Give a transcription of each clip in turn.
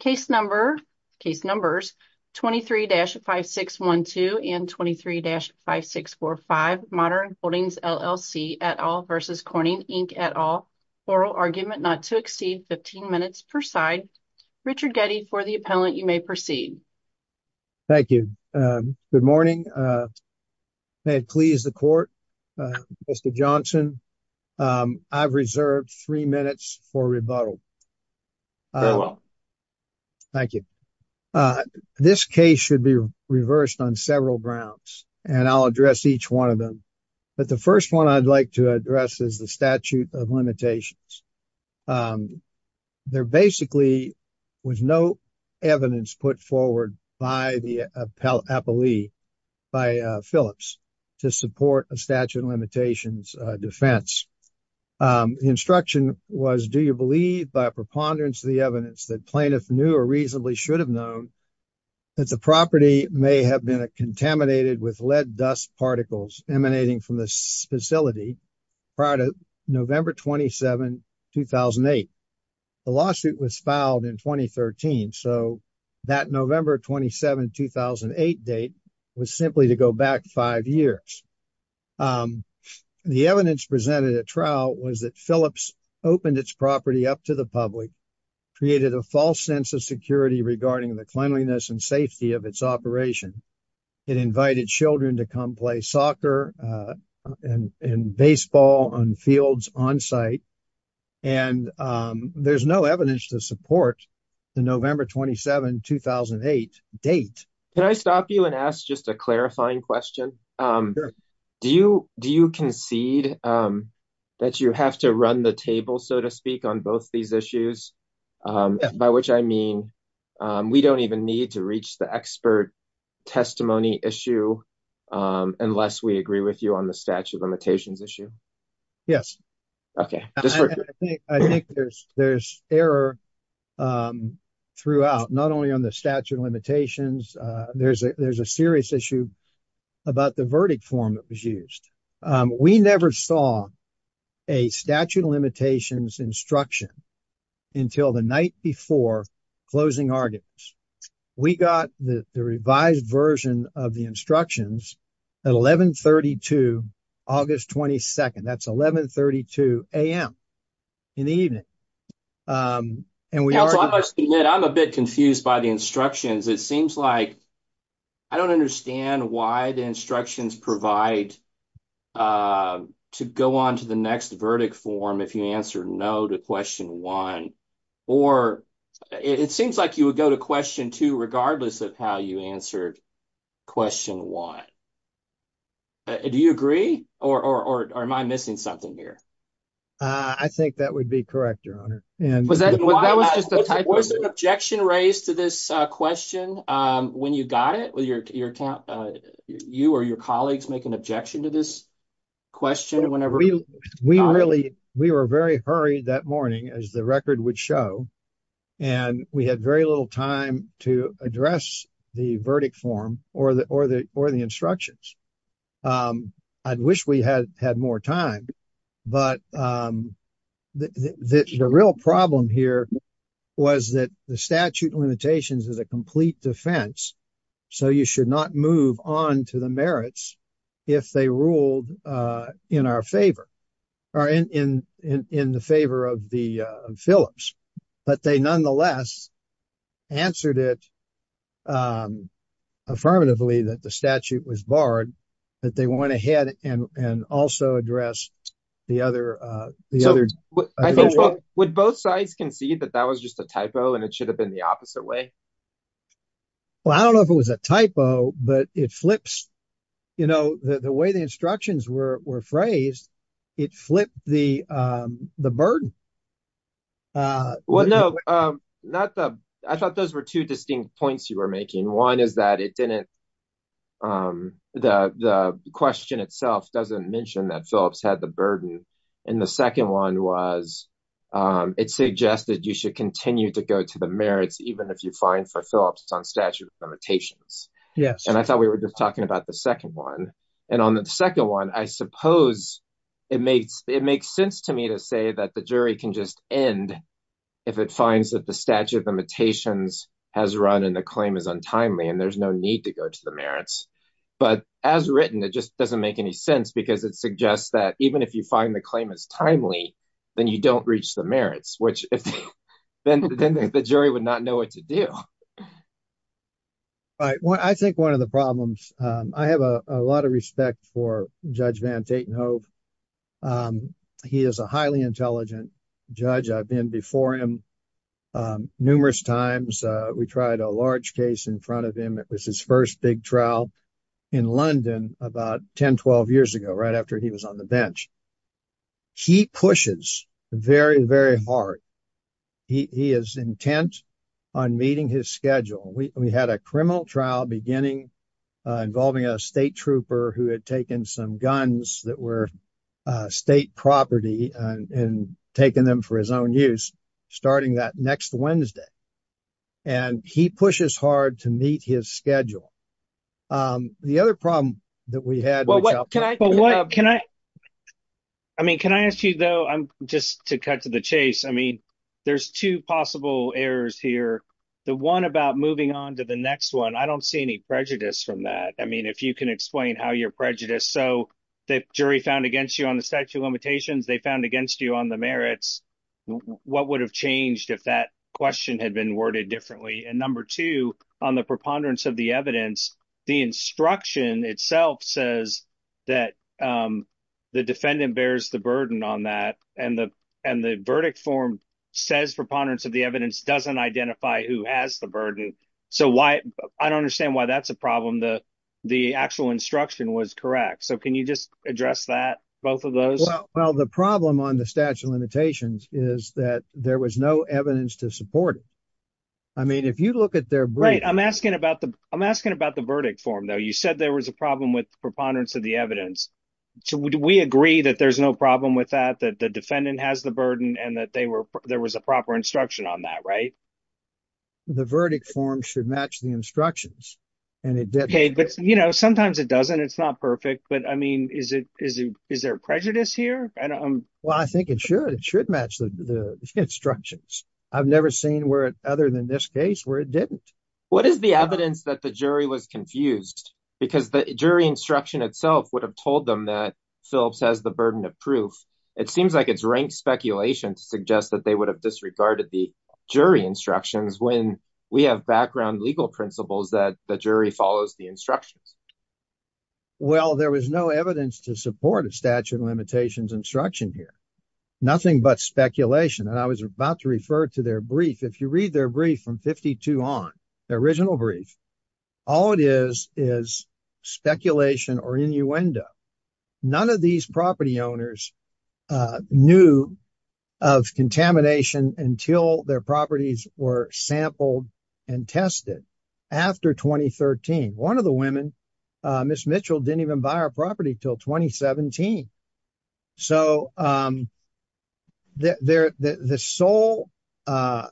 case number case numbers 23-5612 and 23-5645 Modern Holdings LLC et al versus Corning Inc et al oral argument not to exceed 15 minutes per side Richard Getty for the appellant you may proceed thank you um good morning uh may it please the court uh Mr. Johnson um I've reserved three minutes for rebuttal very well thank you uh this case should be reversed on several grounds and I'll address each one of them but the first one I'd like to address is the statute of limitations um there basically was no evidence put forward by the appellee by Phillips to support a statute of limitations defense um the instruction was do you believe by a preponderance of the evidence that plaintiff knew or reasonably should have known that the property may have been contaminated with lead dust particles emanating from the facility prior to November 27 2008 the lawsuit was filed in 2013 so that November 27 2008 date was simply to go back five years the evidence presented at trial was that Phillips opened its property up to the public created a false sense of security regarding the cleanliness and safety of its operation it invited children to come play soccer and baseball on fields on site and um there's no evidence to support the November 27 2008 date can I stop you and ask just a clarifying question um do you do you concede um that you have to run the table so to speak on both these issues um by which I mean um we don't even need to reach the expert testimony issue um unless we agree with you on the statute limitations issue yes okay I think I think there's there's error um throughout not only on the statute of limitations uh there's a there's a serious issue about the verdict form that was used um we never saw a statute of limitations instruction until the night before closing arguments we got the the revised version of the instructions at 11 32 august 22nd that's 11 32 a.m. in the evening um and we also I must admit I'm a bit confused by the instructions it seems like I don't understand why the instructions provide uh to go on to the next verdict form if you answer no to question one or it seems like would go to question two regardless of how you answered question one do you agree or or or am I missing something here uh I think that would be correct your honor and was that what that was just a type of objection raised to this uh question um when you got it with your your account uh you or your colleagues make an objection to this question whenever we we really we were very hurried that morning as the record would show and we had very little time to address the verdict form or the or the or the instructions um I'd wish we had had more time but um the the the real problem here was that the statute limitations is a complete defense so you should not move on to the merits if they ruled uh in our favor or in in in the favor of the uh phillips but they nonetheless answered it um affirmatively that the statute was barred that they went ahead and and also address the other uh the other would both sides concede that that was just a typo and it should have been the opposite way well I don't know if it was a typo but it flips you know the way the instructions were were phrased it flipped the um the burden uh well no um not the I thought those were two distinct points you were making one is that it didn't um the the question itself doesn't mention that phillips had the burden and the second one was um it suggested you should continue to go to the merits even if you find for limitations yes and I thought we were just talking about the second one and on the second one I suppose it makes it makes sense to me to say that the jury can just end if it finds that the statute limitations has run and the claim is untimely and there's no need to go to the merits but as written it just doesn't make any sense because it suggests that even if you find the claim is timely then you don't reach the merits which if then then the jury would not know what to do right well I think one of the problems um I have a a lot of respect for Judge Van Tatenhove he is a highly intelligent judge I've been before him um numerous times uh we tried a large case in front of him it was his first big trial in London about 10-12 years ago right after he was on the bench he pushes very very hard he is intent on meeting his schedule we had a criminal trial beginning involving a state trooper who had taken some guns that were state property and taken them for his own use starting that next Wednesday and he pushes hard to meet his schedule um the other problem that we had well what can I but what can I I mean can I ask you though I'm just to cut to the chase I mean there's two possible errors here the one about moving on to the next one I don't see any prejudice from that I mean if you can explain how your prejudice so the jury found against you on the statute limitations they found against you on the merits what would have changed if that question had been worded differently and number two on the preponderance of the evidence the instruction itself says that um the defendant bears the burden on that and the and the verdict form says preponderance of the evidence doesn't identify who has the burden so why I don't understand why that's a problem the the actual instruction was correct so can you just address that both of those well the problem on the statute limitations is that there was no evidence to support it I mean if you look at their brain I'm asking about the I'm asking about the verdict form though you said there was a problem with preponderance of the evidence so would we agree that there's no problem with that that the defendant has the burden and that they were there was a proper instruction on that right the verdict form should match the instructions and it did okay but you know sometimes it doesn't it's not perfect but I mean is it is it is there prejudice here and I'm well I think it should it should match the instructions I've never seen where it other than this case where it didn't what is the evidence that the jury was confused because the jury instruction itself would have told them that Phillips has the burden of proof it seems like it's ranked speculation to suggest that they would have disregarded the jury instructions when we have background legal principles that the jury follows the instructions well there was no evidence to support a statute of limitations instruction here nothing but speculation and I was about to refer to their brief if you read their brief from 52 on the original brief all it is is speculation or innuendo none of these property owners uh knew of contamination until their properties were sampled and tested after 2013 one of the women uh miss mitchell didn't even buy our property till 2017 so um their the sole uh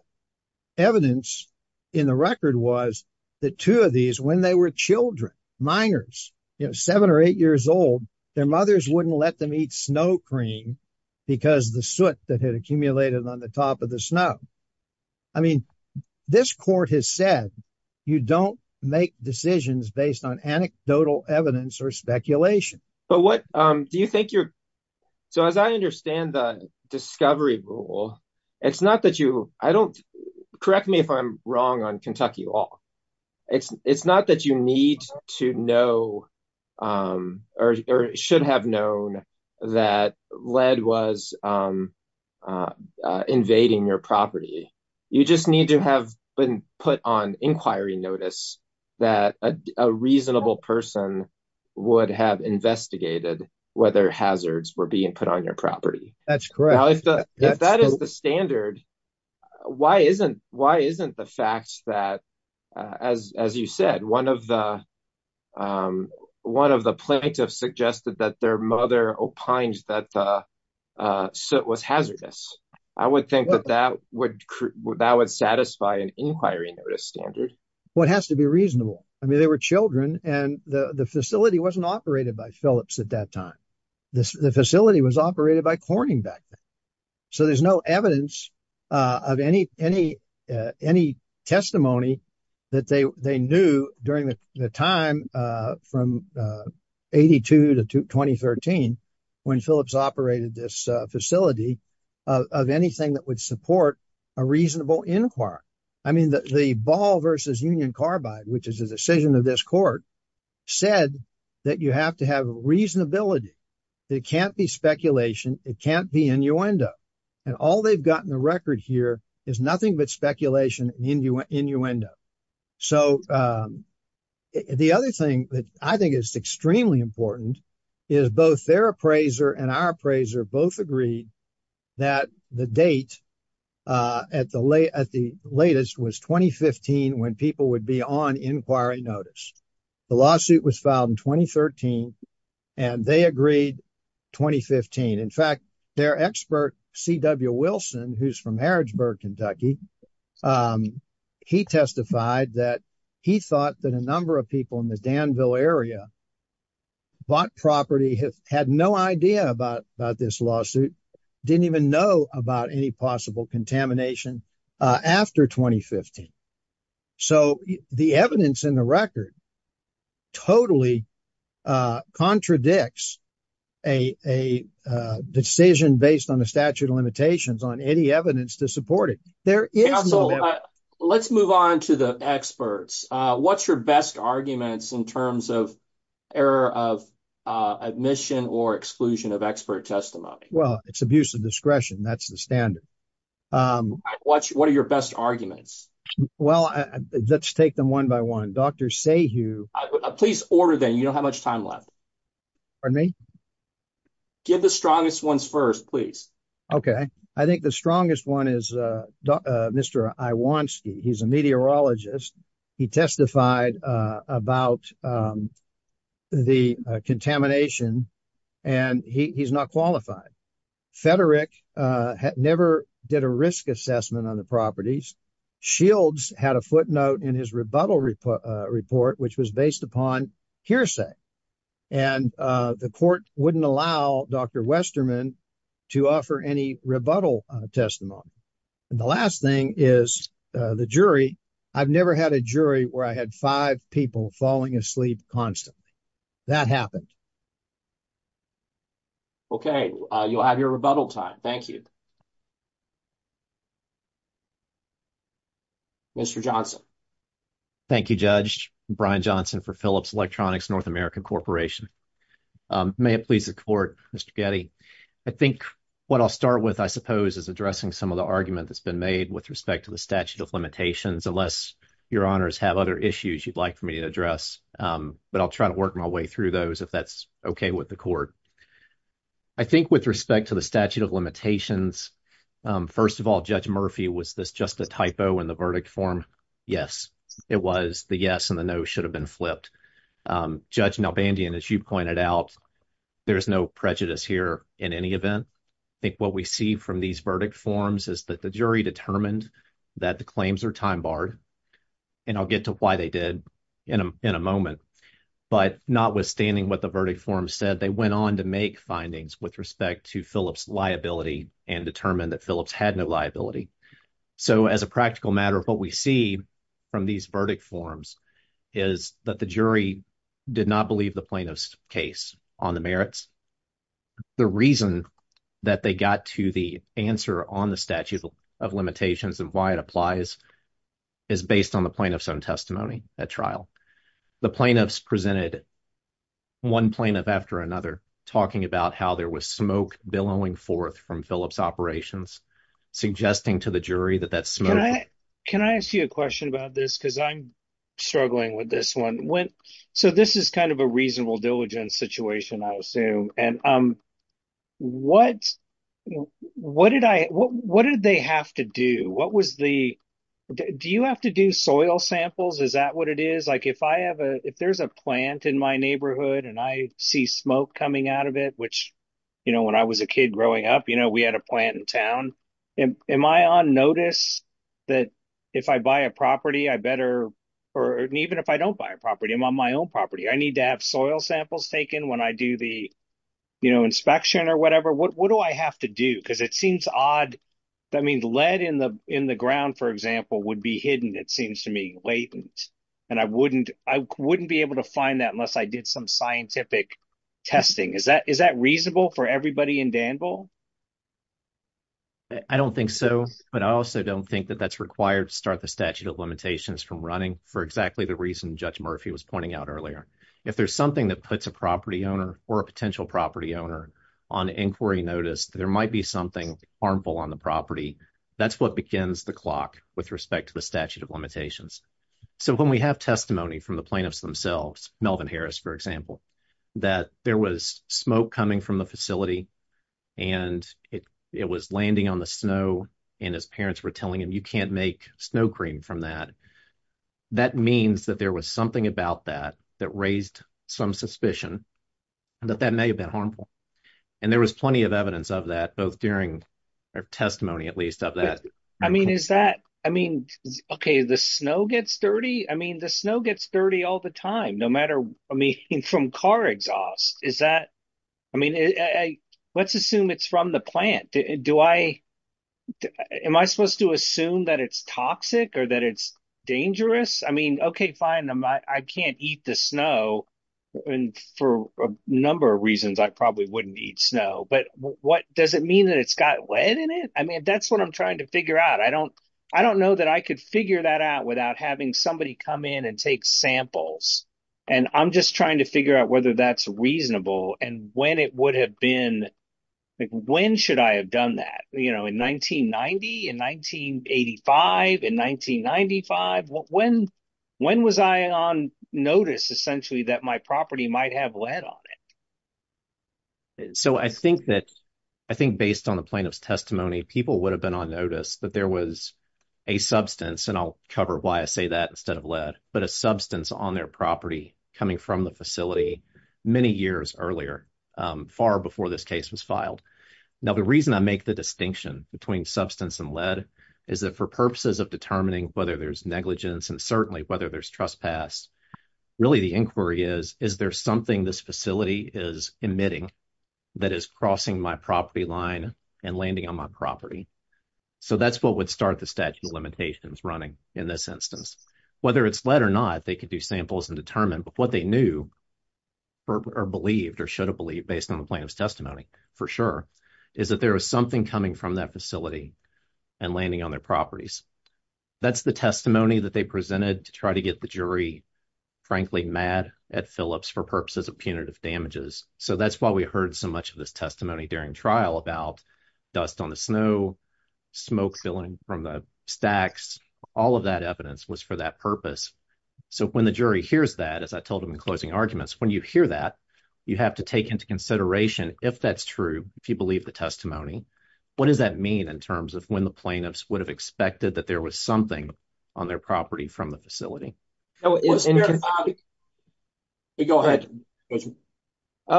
evidence in the record was that two of these when they were children minors you know seven or eight years old their mothers wouldn't let them eat snow cream because the soot that had accumulated on the top of the snow I mean this court has said you don't make decisions based on anecdotal evidence or speculation but what um do you think you're so as I understand the discovery rule it's not that you I don't correct me if I'm wrong on Kentucky law it's it's not that you need to know um or should have known that lead was um uh invading your property you just need to have been put on inquiry notice that a reasonable person would have investigated whether hazards were being put on your property that's correct if that is the standard why isn't why isn't the fact that as as you said one of the um one of the plaintiffs suggested that their mother opines that so it was hazardous I would think that that would that would satisfy an inquiry notice standard what has to be reasonable I mean they were children and the the facility wasn't operated by Phillips at that time this the facility was operated by Corning back then so there's no evidence uh of any any uh any testimony that they they knew during the time uh from uh 82 to 2013 when Phillips operated this uh facility of anything that would support a reasonable inquiry I mean the ball versus union carbide which is a decision of this court said that you have to have reasonability it can't be speculation it can't be innuendo and all they've got in the record here is nothing but speculation and innuendo so um the other thing that I think is extremely important is both their appraiser and our appraiser both agreed that the date uh at the late at the latest was 2015 when people would be on inquiry notice the lawsuit was filed in 2013 and they agreed 2015 in fact their expert C.W. Wilson who's from Harrodsburg Kentucky um he testified that he thought that a number of people in the Danville area bought property had no idea about about this didn't even know about any possible contamination uh after 2015 so the evidence in the record totally uh contradicts a a decision based on the statute of limitations on any evidence to support it there is no let's move on to the experts uh what's your best arguments in terms of error of uh admission or exclusion of expert testimony well it's abuse of discretion that's the standard um what's what are your best arguments well let's take them one by one Dr. Sayhu please order them you don't have much time left pardon me give the strongest ones first please okay I think the strongest one is uh Mr. Iwanski he's a meteorologist he testified uh about um the contamination and he he's not qualified Federick uh never did a risk assessment on the properties Shields had a footnote in his rebuttal report uh report which was based upon hearsay and uh the court wouldn't allow Dr. Westerman to offer any rebuttal testimony and the last thing is uh the jury I've never had a jury where I had five people falling asleep constantly that happened okay uh you'll have your rebuttal time thank you Mr. Johnson thank you Judge Brian Johnson for Phillips Electronics North American Corporation um may it please the court Mr. Getty I think what I'll start with I suppose is addressing some of the argument that's been made with respect to the statute of limitations unless your honors have other issues you'd like for me to address um but I'll try to work my way through those if that's okay with the court I think with respect to the statute of limitations um first of all Judge Murphy was this just a typo in the verdict form yes it was the yes and the no should have been flipped um Judge Nalbandian as you pointed out there's no prejudice here in any event I think we see from these verdict forms is that the jury determined that the claims are time barred and I'll get to why they did in a moment but notwithstanding what the verdict form said they went on to make findings with respect to Phillips liability and determined that Phillips had no liability so as a practical matter what we see from these verdict forms is that the jury did not believe the plaintiff's case on the merits the reason that they got to the answer on the statute of limitations and why it applies is based on the plaintiff's own testimony at trial the plaintiffs presented one plaintiff after another talking about how there was smoke billowing forth from Phillips operations suggesting to the jury that that smoke can I ask you a about this because I'm struggling with this one when so this is kind of a reasonable diligence situation I assume and um what what did I what what did they have to do what was the do you have to do soil samples is that what it is like if I have a if there's a plant in my neighborhood and I see smoke coming out of it which you know when I was a kid growing up you we had a plant in town and am I on notice that if I buy a property I better or even if I don't buy a property I'm on my own property I need to have soil samples taken when I do the you know inspection or whatever what do I have to do because it seems odd that means lead in the in the ground for example would be hidden it seems to me latent and I wouldn't I wouldn't be able to find that unless I did some scientific testing is that is that reasonable for everybody in Danville I don't think so but I also don't think that that's required to start the statute of limitations from running for exactly the reason Judge Murphy was pointing out earlier if there's something that puts a property owner or a potential property owner on inquiry notice there might be something harmful on the property that's what begins the clock with respect to the statute of limitations so when we have testimony from the plaintiffs themselves Melvin Harris for example that there was smoke coming from the facility and it it was landing on the snow and his parents were telling him you can't make snow cream from that that means that there was something about that that raised some suspicion that that may have been harmful and there was plenty of evidence of that both during their testimony at least of that I mean is that I mean okay the snow gets dirty I mean the snow gets dirty all the time no matter I mean from car exhaust is that I mean I let's assume it's from the plant do I am I supposed to assume that it's toxic or that it's dangerous I mean okay fine I can't eat the snow and for a number of reasons I probably wouldn't eat snow but what does it mean that it's got lead in it I mean that's what I'm trying to figure out I don't I don't know that I could figure that out without having somebody come in and take samples and I'm just trying to figure out whether that's reasonable and when it would have been like when should I have done that you know in 1990 in 1985 in 1995 when when was I on notice essentially that my might have lead on it so I think that I think based on the plaintiff's testimony people would have been on notice that there was a substance and I'll cover why I say that instead of lead but a substance on their property coming from the facility many years earlier far before this case was filed now the reason I make the distinction between substance and lead is that for purposes of determining whether there's negligence and certainly whether there's trespass really the is there something this facility is emitting that is crossing my property line and landing on my property so that's what would start the statute of limitations running in this instance whether it's lead or not they could do samples and determine but what they knew or believed or should have believed based on the plaintiff's testimony for sure is that there is something coming from that facility and landing on their properties that's the testimony that they try to get the jury frankly mad at Phillips for purposes of punitive damages so that's why we heard so much of this testimony during trial about dust on the snow smoke filling from the stacks all of that evidence was for that purpose so when the jury hears that as I told them in closing arguments when you hear that you have to take into consideration if that's true if you believe the testimony what does that mean in terms of when the plaintiffs would have expected that there was something on their property from the facility no it's in your body we go ahead oh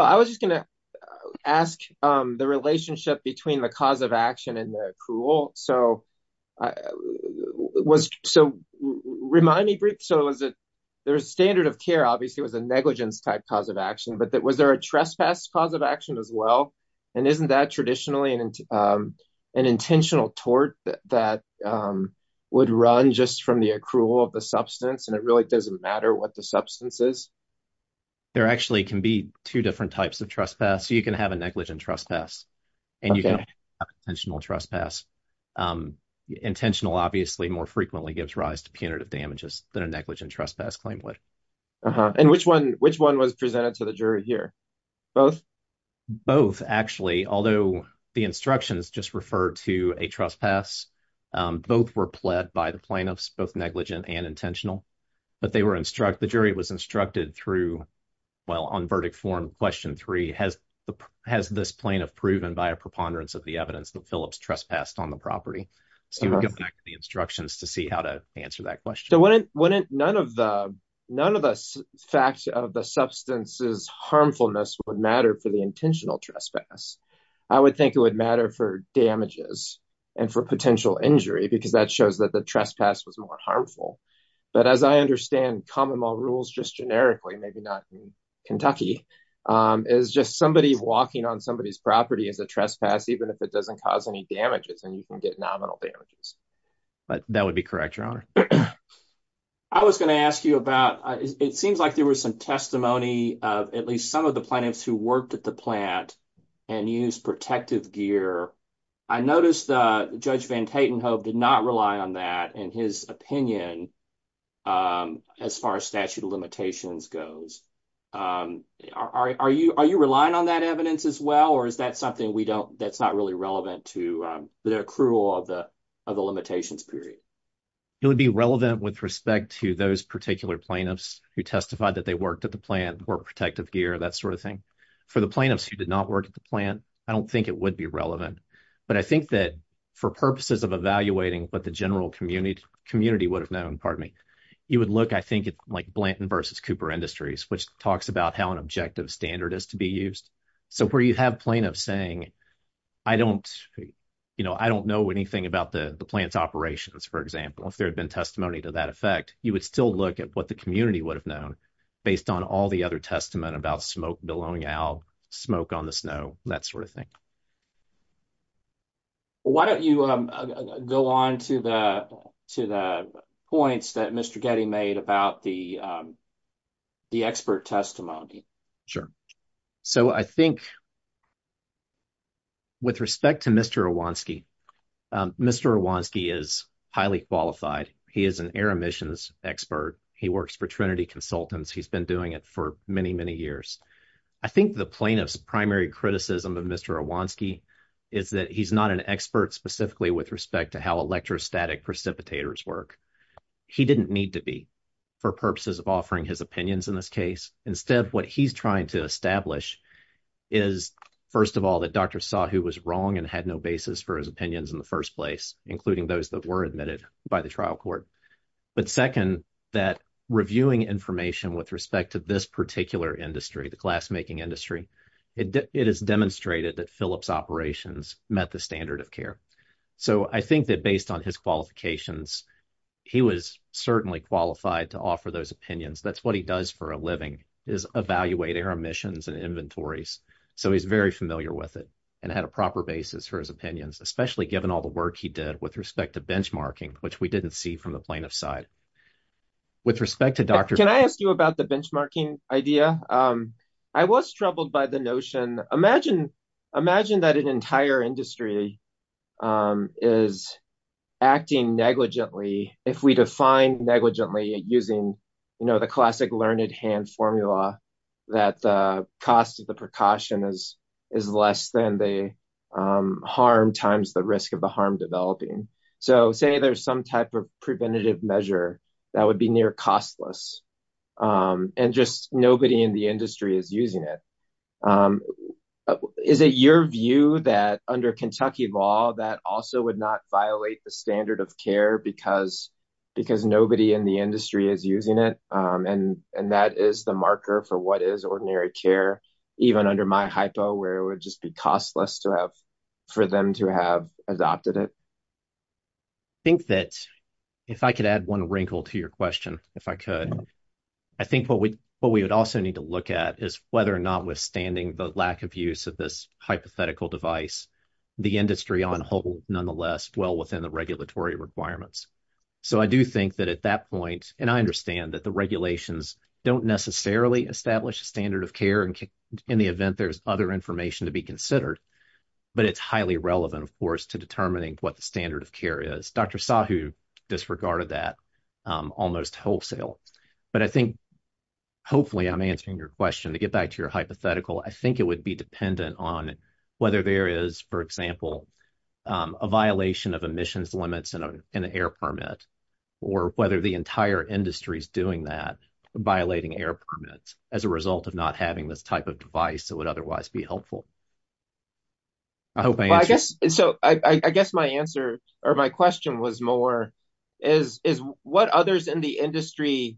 I was just gonna ask um the relationship between the cause of action and the accrual so I was so remind me brief so is it there's standard of care obviously was a negligence type cause of action but that was there a trespass cause of action as well and isn't that traditionally an intentional tort that would run just from the accrual of the substance and it really doesn't matter what the substance is there actually can be two different types of trespass you can have a negligent trespass and you can have intentional trespass intentional obviously more frequently gives rise to punitive damages than a negligent trespass claim would and which one which one was presented to the jury here both both actually although the instructions just refer to a trespass both were pled by the plaintiffs both negligent and intentional but they were instruct the jury was instructed through well on verdict form question three has the has this plaintiff proven by a preponderance of the evidence that phillips trespassed on the property so we'll go back to the instructions to see how to answer that question wouldn't none of the none of the facts of the substance's harmfulness would matter for the intentional trespass i would think it would matter for damages and for potential injury because that shows that the trespass was more harmful but as i understand common law rules just generically maybe not in kentucky is just somebody walking on somebody's property as a trespass even if it doesn't cause any damages and you can get nominal damages but that would be correct your honor i was going to ask you about it seems like there was some testimony of at least some of the plaintiffs who worked at the plant and used protective gear i noticed uh judge van tatenhove did not rely on that in his opinion um as far as statute of limitations goes um are you are you relying on that evidence as well or that's something we don't that's not really relevant to the accrual of the of the limitations period it would be relevant with respect to those particular plaintiffs who testified that they worked at the plant or protective gear that sort of thing for the plaintiffs who did not work at the plant i don't think it would be relevant but i think that for purposes of evaluating what the general community community would have known pardon me you would look i think it's like blanton versus cooper industries which talks about how an objective standard is to be used so where you have plaintiffs saying i don't you know i don't know anything about the the plant's operations for example if there had been testimony to that effect you would still look at what the community would have known based on all the other testament about smoke blowing out smoke on the snow that sort of thing why don't you um go on to the to the points that mr getty made about the the expert testimony sure so i think with respect to mr awanski mr awanski is highly qualified he is an air emissions expert he works for trinity consultants he's been doing it for many many years i think the plaintiff's primary criticism of mr awanski is that he's not an expert specifically with respect to how electrostatic precipitators work he didn't need to be for purposes of offering his opinions in this case instead what he's trying to establish is first of all that dr sahu was wrong and had no basis for his opinions in the first place including those that were admitted by the trial court but second that reviewing information with respect to this particular industry the glass making industry it is demonstrated that phillips operations met the standard of care so i think that based on his qualifications he was certainly qualified to offer those opinions that's what he does for a living is evaluating our emissions and inventories so he's very familiar with it and had a proper basis for his opinions especially given all the work he did with respect to benchmarking which we didn't see from the plaintiff's side with respect to dr can i ask you about the benchmarking idea um i was troubled by the notion imagine imagine that an entire industry um is acting negligently if we define negligently using you know the classic learned hand formula that the cost of the precaution is is less than the harm times the risk of the harm developing so say there's some type of preventative measure that would be near costless um and just in the industry is using it um is it your view that under kentucky law that also would not violate the standard of care because because nobody in the industry is using it um and and that is the marker for what is ordinary care even under my hypo where it would just be costless to have for them to have adopted it i think that if i could add one wrinkle to your question if i could i think what we what we would also need to look at is whether or not withstanding the lack of use of this hypothetical device the industry on hold nonetheless well within the regulatory requirements so i do think that at that point and i understand that the regulations don't necessarily establish a standard of care and in the event there's other information to be considered but it's highly relevant of course to determining what the standard of care is dr sahu disregarded that almost wholesale but i think hopefully i'm answering your question to get back to your hypothetical i think it would be dependent on whether there is for example a violation of emissions limits and an air permit or whether the entire industry is doing that violating air permits as a result of not having this type of device that would otherwise be helpful i hope i guess so i i guess my answer or my question was more is is what others in the industry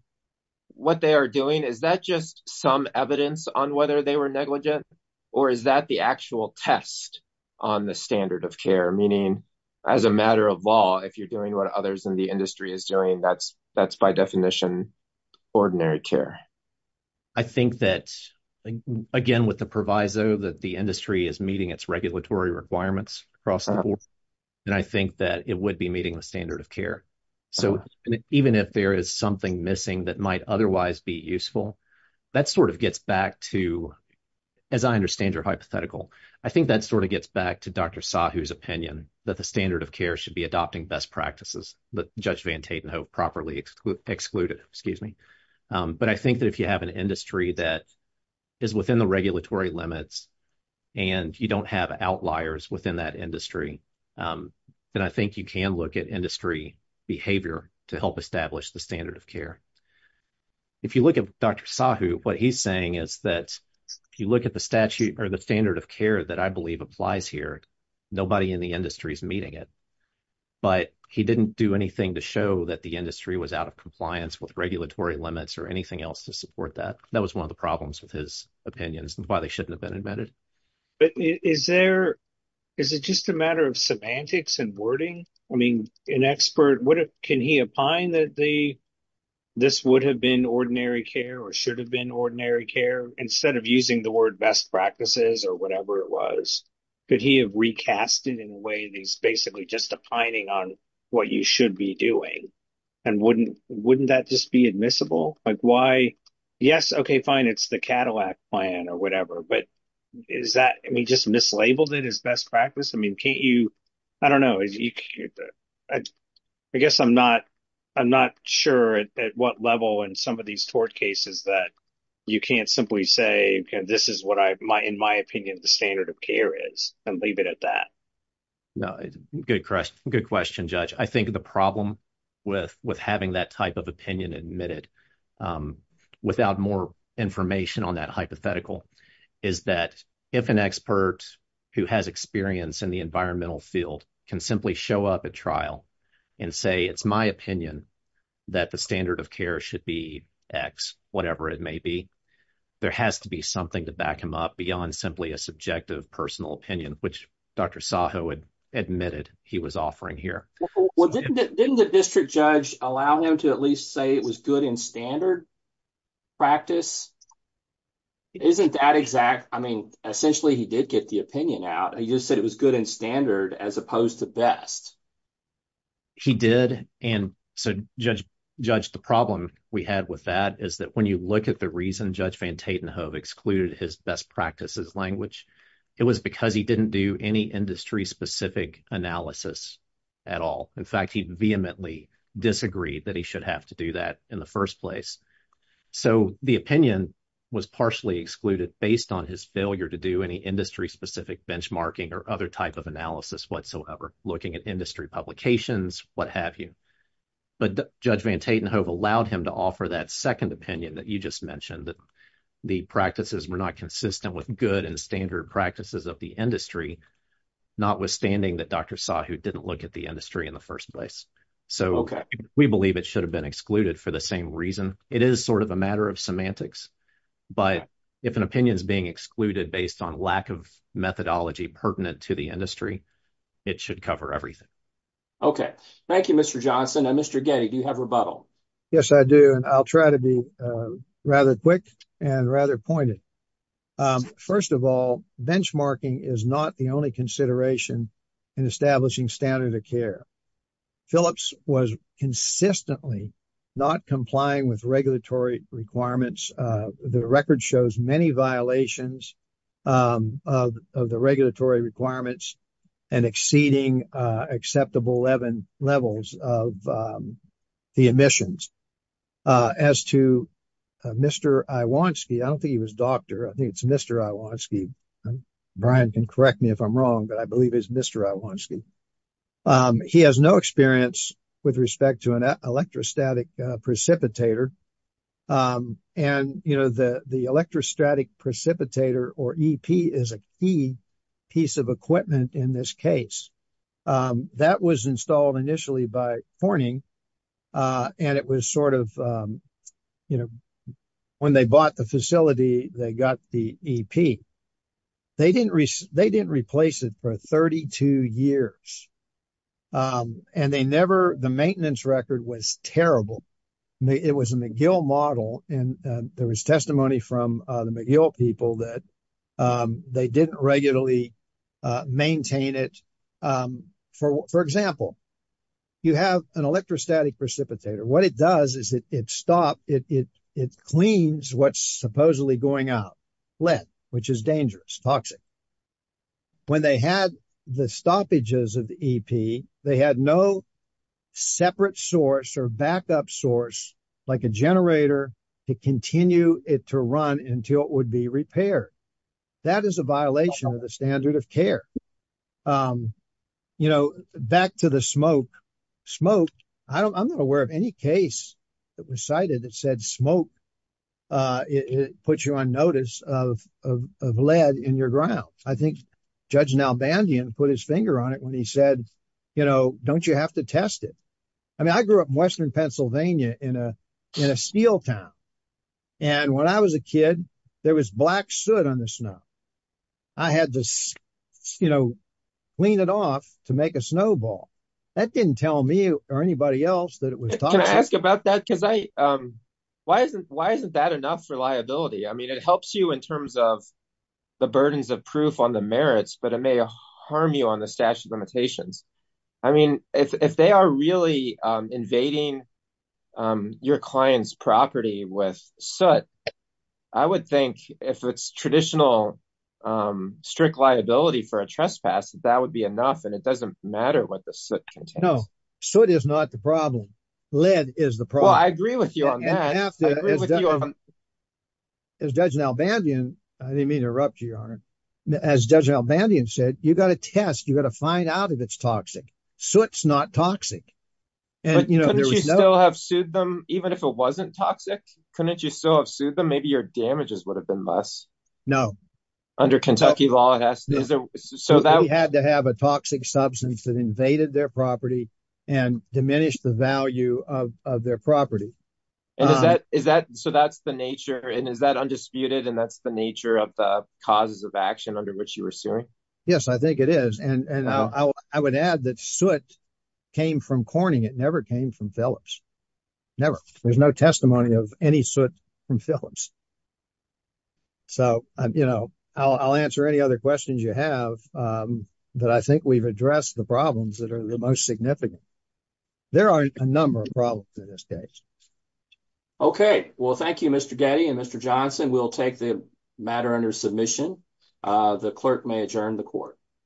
what they are doing is that just some evidence on whether they were negligent or is that the actual test on the standard of care meaning as a matter of law if you're doing what others in the industry is doing that's that's by definition ordinary care i think that again again with the proviso that the industry is meeting its regulatory requirements across the board and i think that it would be meeting the standard of care so even if there is something missing that might otherwise be useful that sort of gets back to as i understand your hypothetical i think that sort of gets back to dr sahu's opinion that the standard of care should be adopting best practices but judge van tatenhove properly excluded excluded excuse me but i think that if you have an industry that is within the regulatory limits and you don't have outliers within that industry then i think you can look at industry behavior to help establish the standard of care if you look at dr sahu what he's saying is that if you look at the statute or the standard of care that i believe applies here nobody in the industry is meeting it but he didn't do anything to show that the industry was out of compliance with regulatory limits or anything else to support that that was one of the problems with his opinions and why they shouldn't have been admitted but is there is it just a matter of semantics and wording i mean an expert what can he opine that the this would have been ordinary care or should have been ordinary care instead of using the word best practices or whatever it was could he have recast it in a way that's basically just opining on what you should be doing and wouldn't wouldn't that just be admissible like why yes okay fine it's the cadillac plan or whatever but is that i mean just mislabeled it as best practice i mean can't you i don't know if you i guess i'm not i'm not sure at what level in some of these tort cases that you can't simply say this is what i might in my opinion the standard of care is and leave it at that no good question good question judge i think the problem with with having that type of opinion admitted without more information on that hypothetical is that if an expert who has experience in the environmental field can simply show up at trial and say it's my opinion that the standard of care should be x whatever it may be there has to be something to him up beyond simply a subjective personal opinion which dr saho had admitted he was offering here didn't the district judge allow him to at least say it was good in standard practice isn't that exact i mean essentially he did get the opinion out he just said it was good in standard as opposed to best he did and so judge judge the problem we had with that is that when you look at the reason judge van tatenhove excluded his best practices language it was because he didn't do any industry specific analysis at all in fact he vehemently disagreed that he should have to do that in the first place so the opinion was partially excluded based on his failure to do any industry specific benchmarking or other type of analysis whatsoever looking at industry publications what have you but judge van tatenhove allowed him to offer that second opinion that you just mentioned that the practices were not consistent with good and standard practices of the industry notwithstanding that dr saho didn't look at the industry in the first place so okay we believe it should have been excluded for the same reason it is sort of a matter of semantics but if an opinion is being excluded based on lack of methodology pertinent to the industry it should cover everything okay thank you mr johnson and mr getty do you have rebuttal yes i do and i'll try to be rather quick and rather pointed first of all benchmarking is not the only consideration in establishing standard of care phillips was consistently not complying with regulatory requirements the record shows many violations of the regulatory requirements and exceeding acceptable levels of the emissions as to mr iwanski i don't think he was doctor i think it's mr iwanski brian can correct me if i'm wrong but i believe it's mr iwanski he has no experience with respect to an electrostatic precipitator and you know the electrostatic precipitator or ep is a key piece of equipment in this case that was installed initially by forning and it was sort of you know when they bought the facility they got the ep they didn't they didn't replace it for 32 years and they never the maintenance record was terrible it was a mcgill model and there was testimony from the mcgill people that they didn't regularly maintain it for for example you have an electrostatic precipitator what it does is it it stopped it it it cleans what's supposedly going out lead which is dangerous toxic when they had the stoppages of the ep they had no separate source or backup source like a generator to continue it to run until it would be repaired that is a violation of the standard of care um you know back to the smoke smoke i don't i'm not aware of any case that was smoke uh it puts you on notice of of lead in your ground i think judge nalbandian put his finger on it when he said you know don't you have to test it i mean i grew up in western pennsylvania in a in a steel town and when i was a kid there was black soot on the snow i had to you know clean it off to make a snowball that didn't tell me or anybody else that it was can i ask about that because i um why isn't why isn't that enough for liability i mean it helps you in terms of the burdens of proof on the merits but it may harm you on the statute of limitations i mean if if they are really um invading um your client's property with soot i would think if it's traditional um strict liability for a trespass that would be enough and it doesn't matter what the soot no so it is not the problem lead is the problem i agree with you on that as judge nalbandian i didn't mean to interrupt you your honor as judge nalbandian said you got to test you got to find out if it's toxic so it's not toxic and you know you still have sued them even if it wasn't toxic couldn't you still have sued them maybe your damages would have been less no under kentucky law so that we had to have a toxic substance that invaded their property and diminished the value of of their property and is that is that so that's the nature and is that undisputed and that's the nature of the causes of action under which you were suing yes i think it is and and i would add that soot came from corning it never came from phillips never there's no testimony of any soot from phillips so i'm you know i'll answer any other questions you have um that i think we've addressed the problems that are the most significant there are a number of problems in this case okay well thank you mr getty and mr johnson we'll take the matter under submission uh the clerk may adjourn the court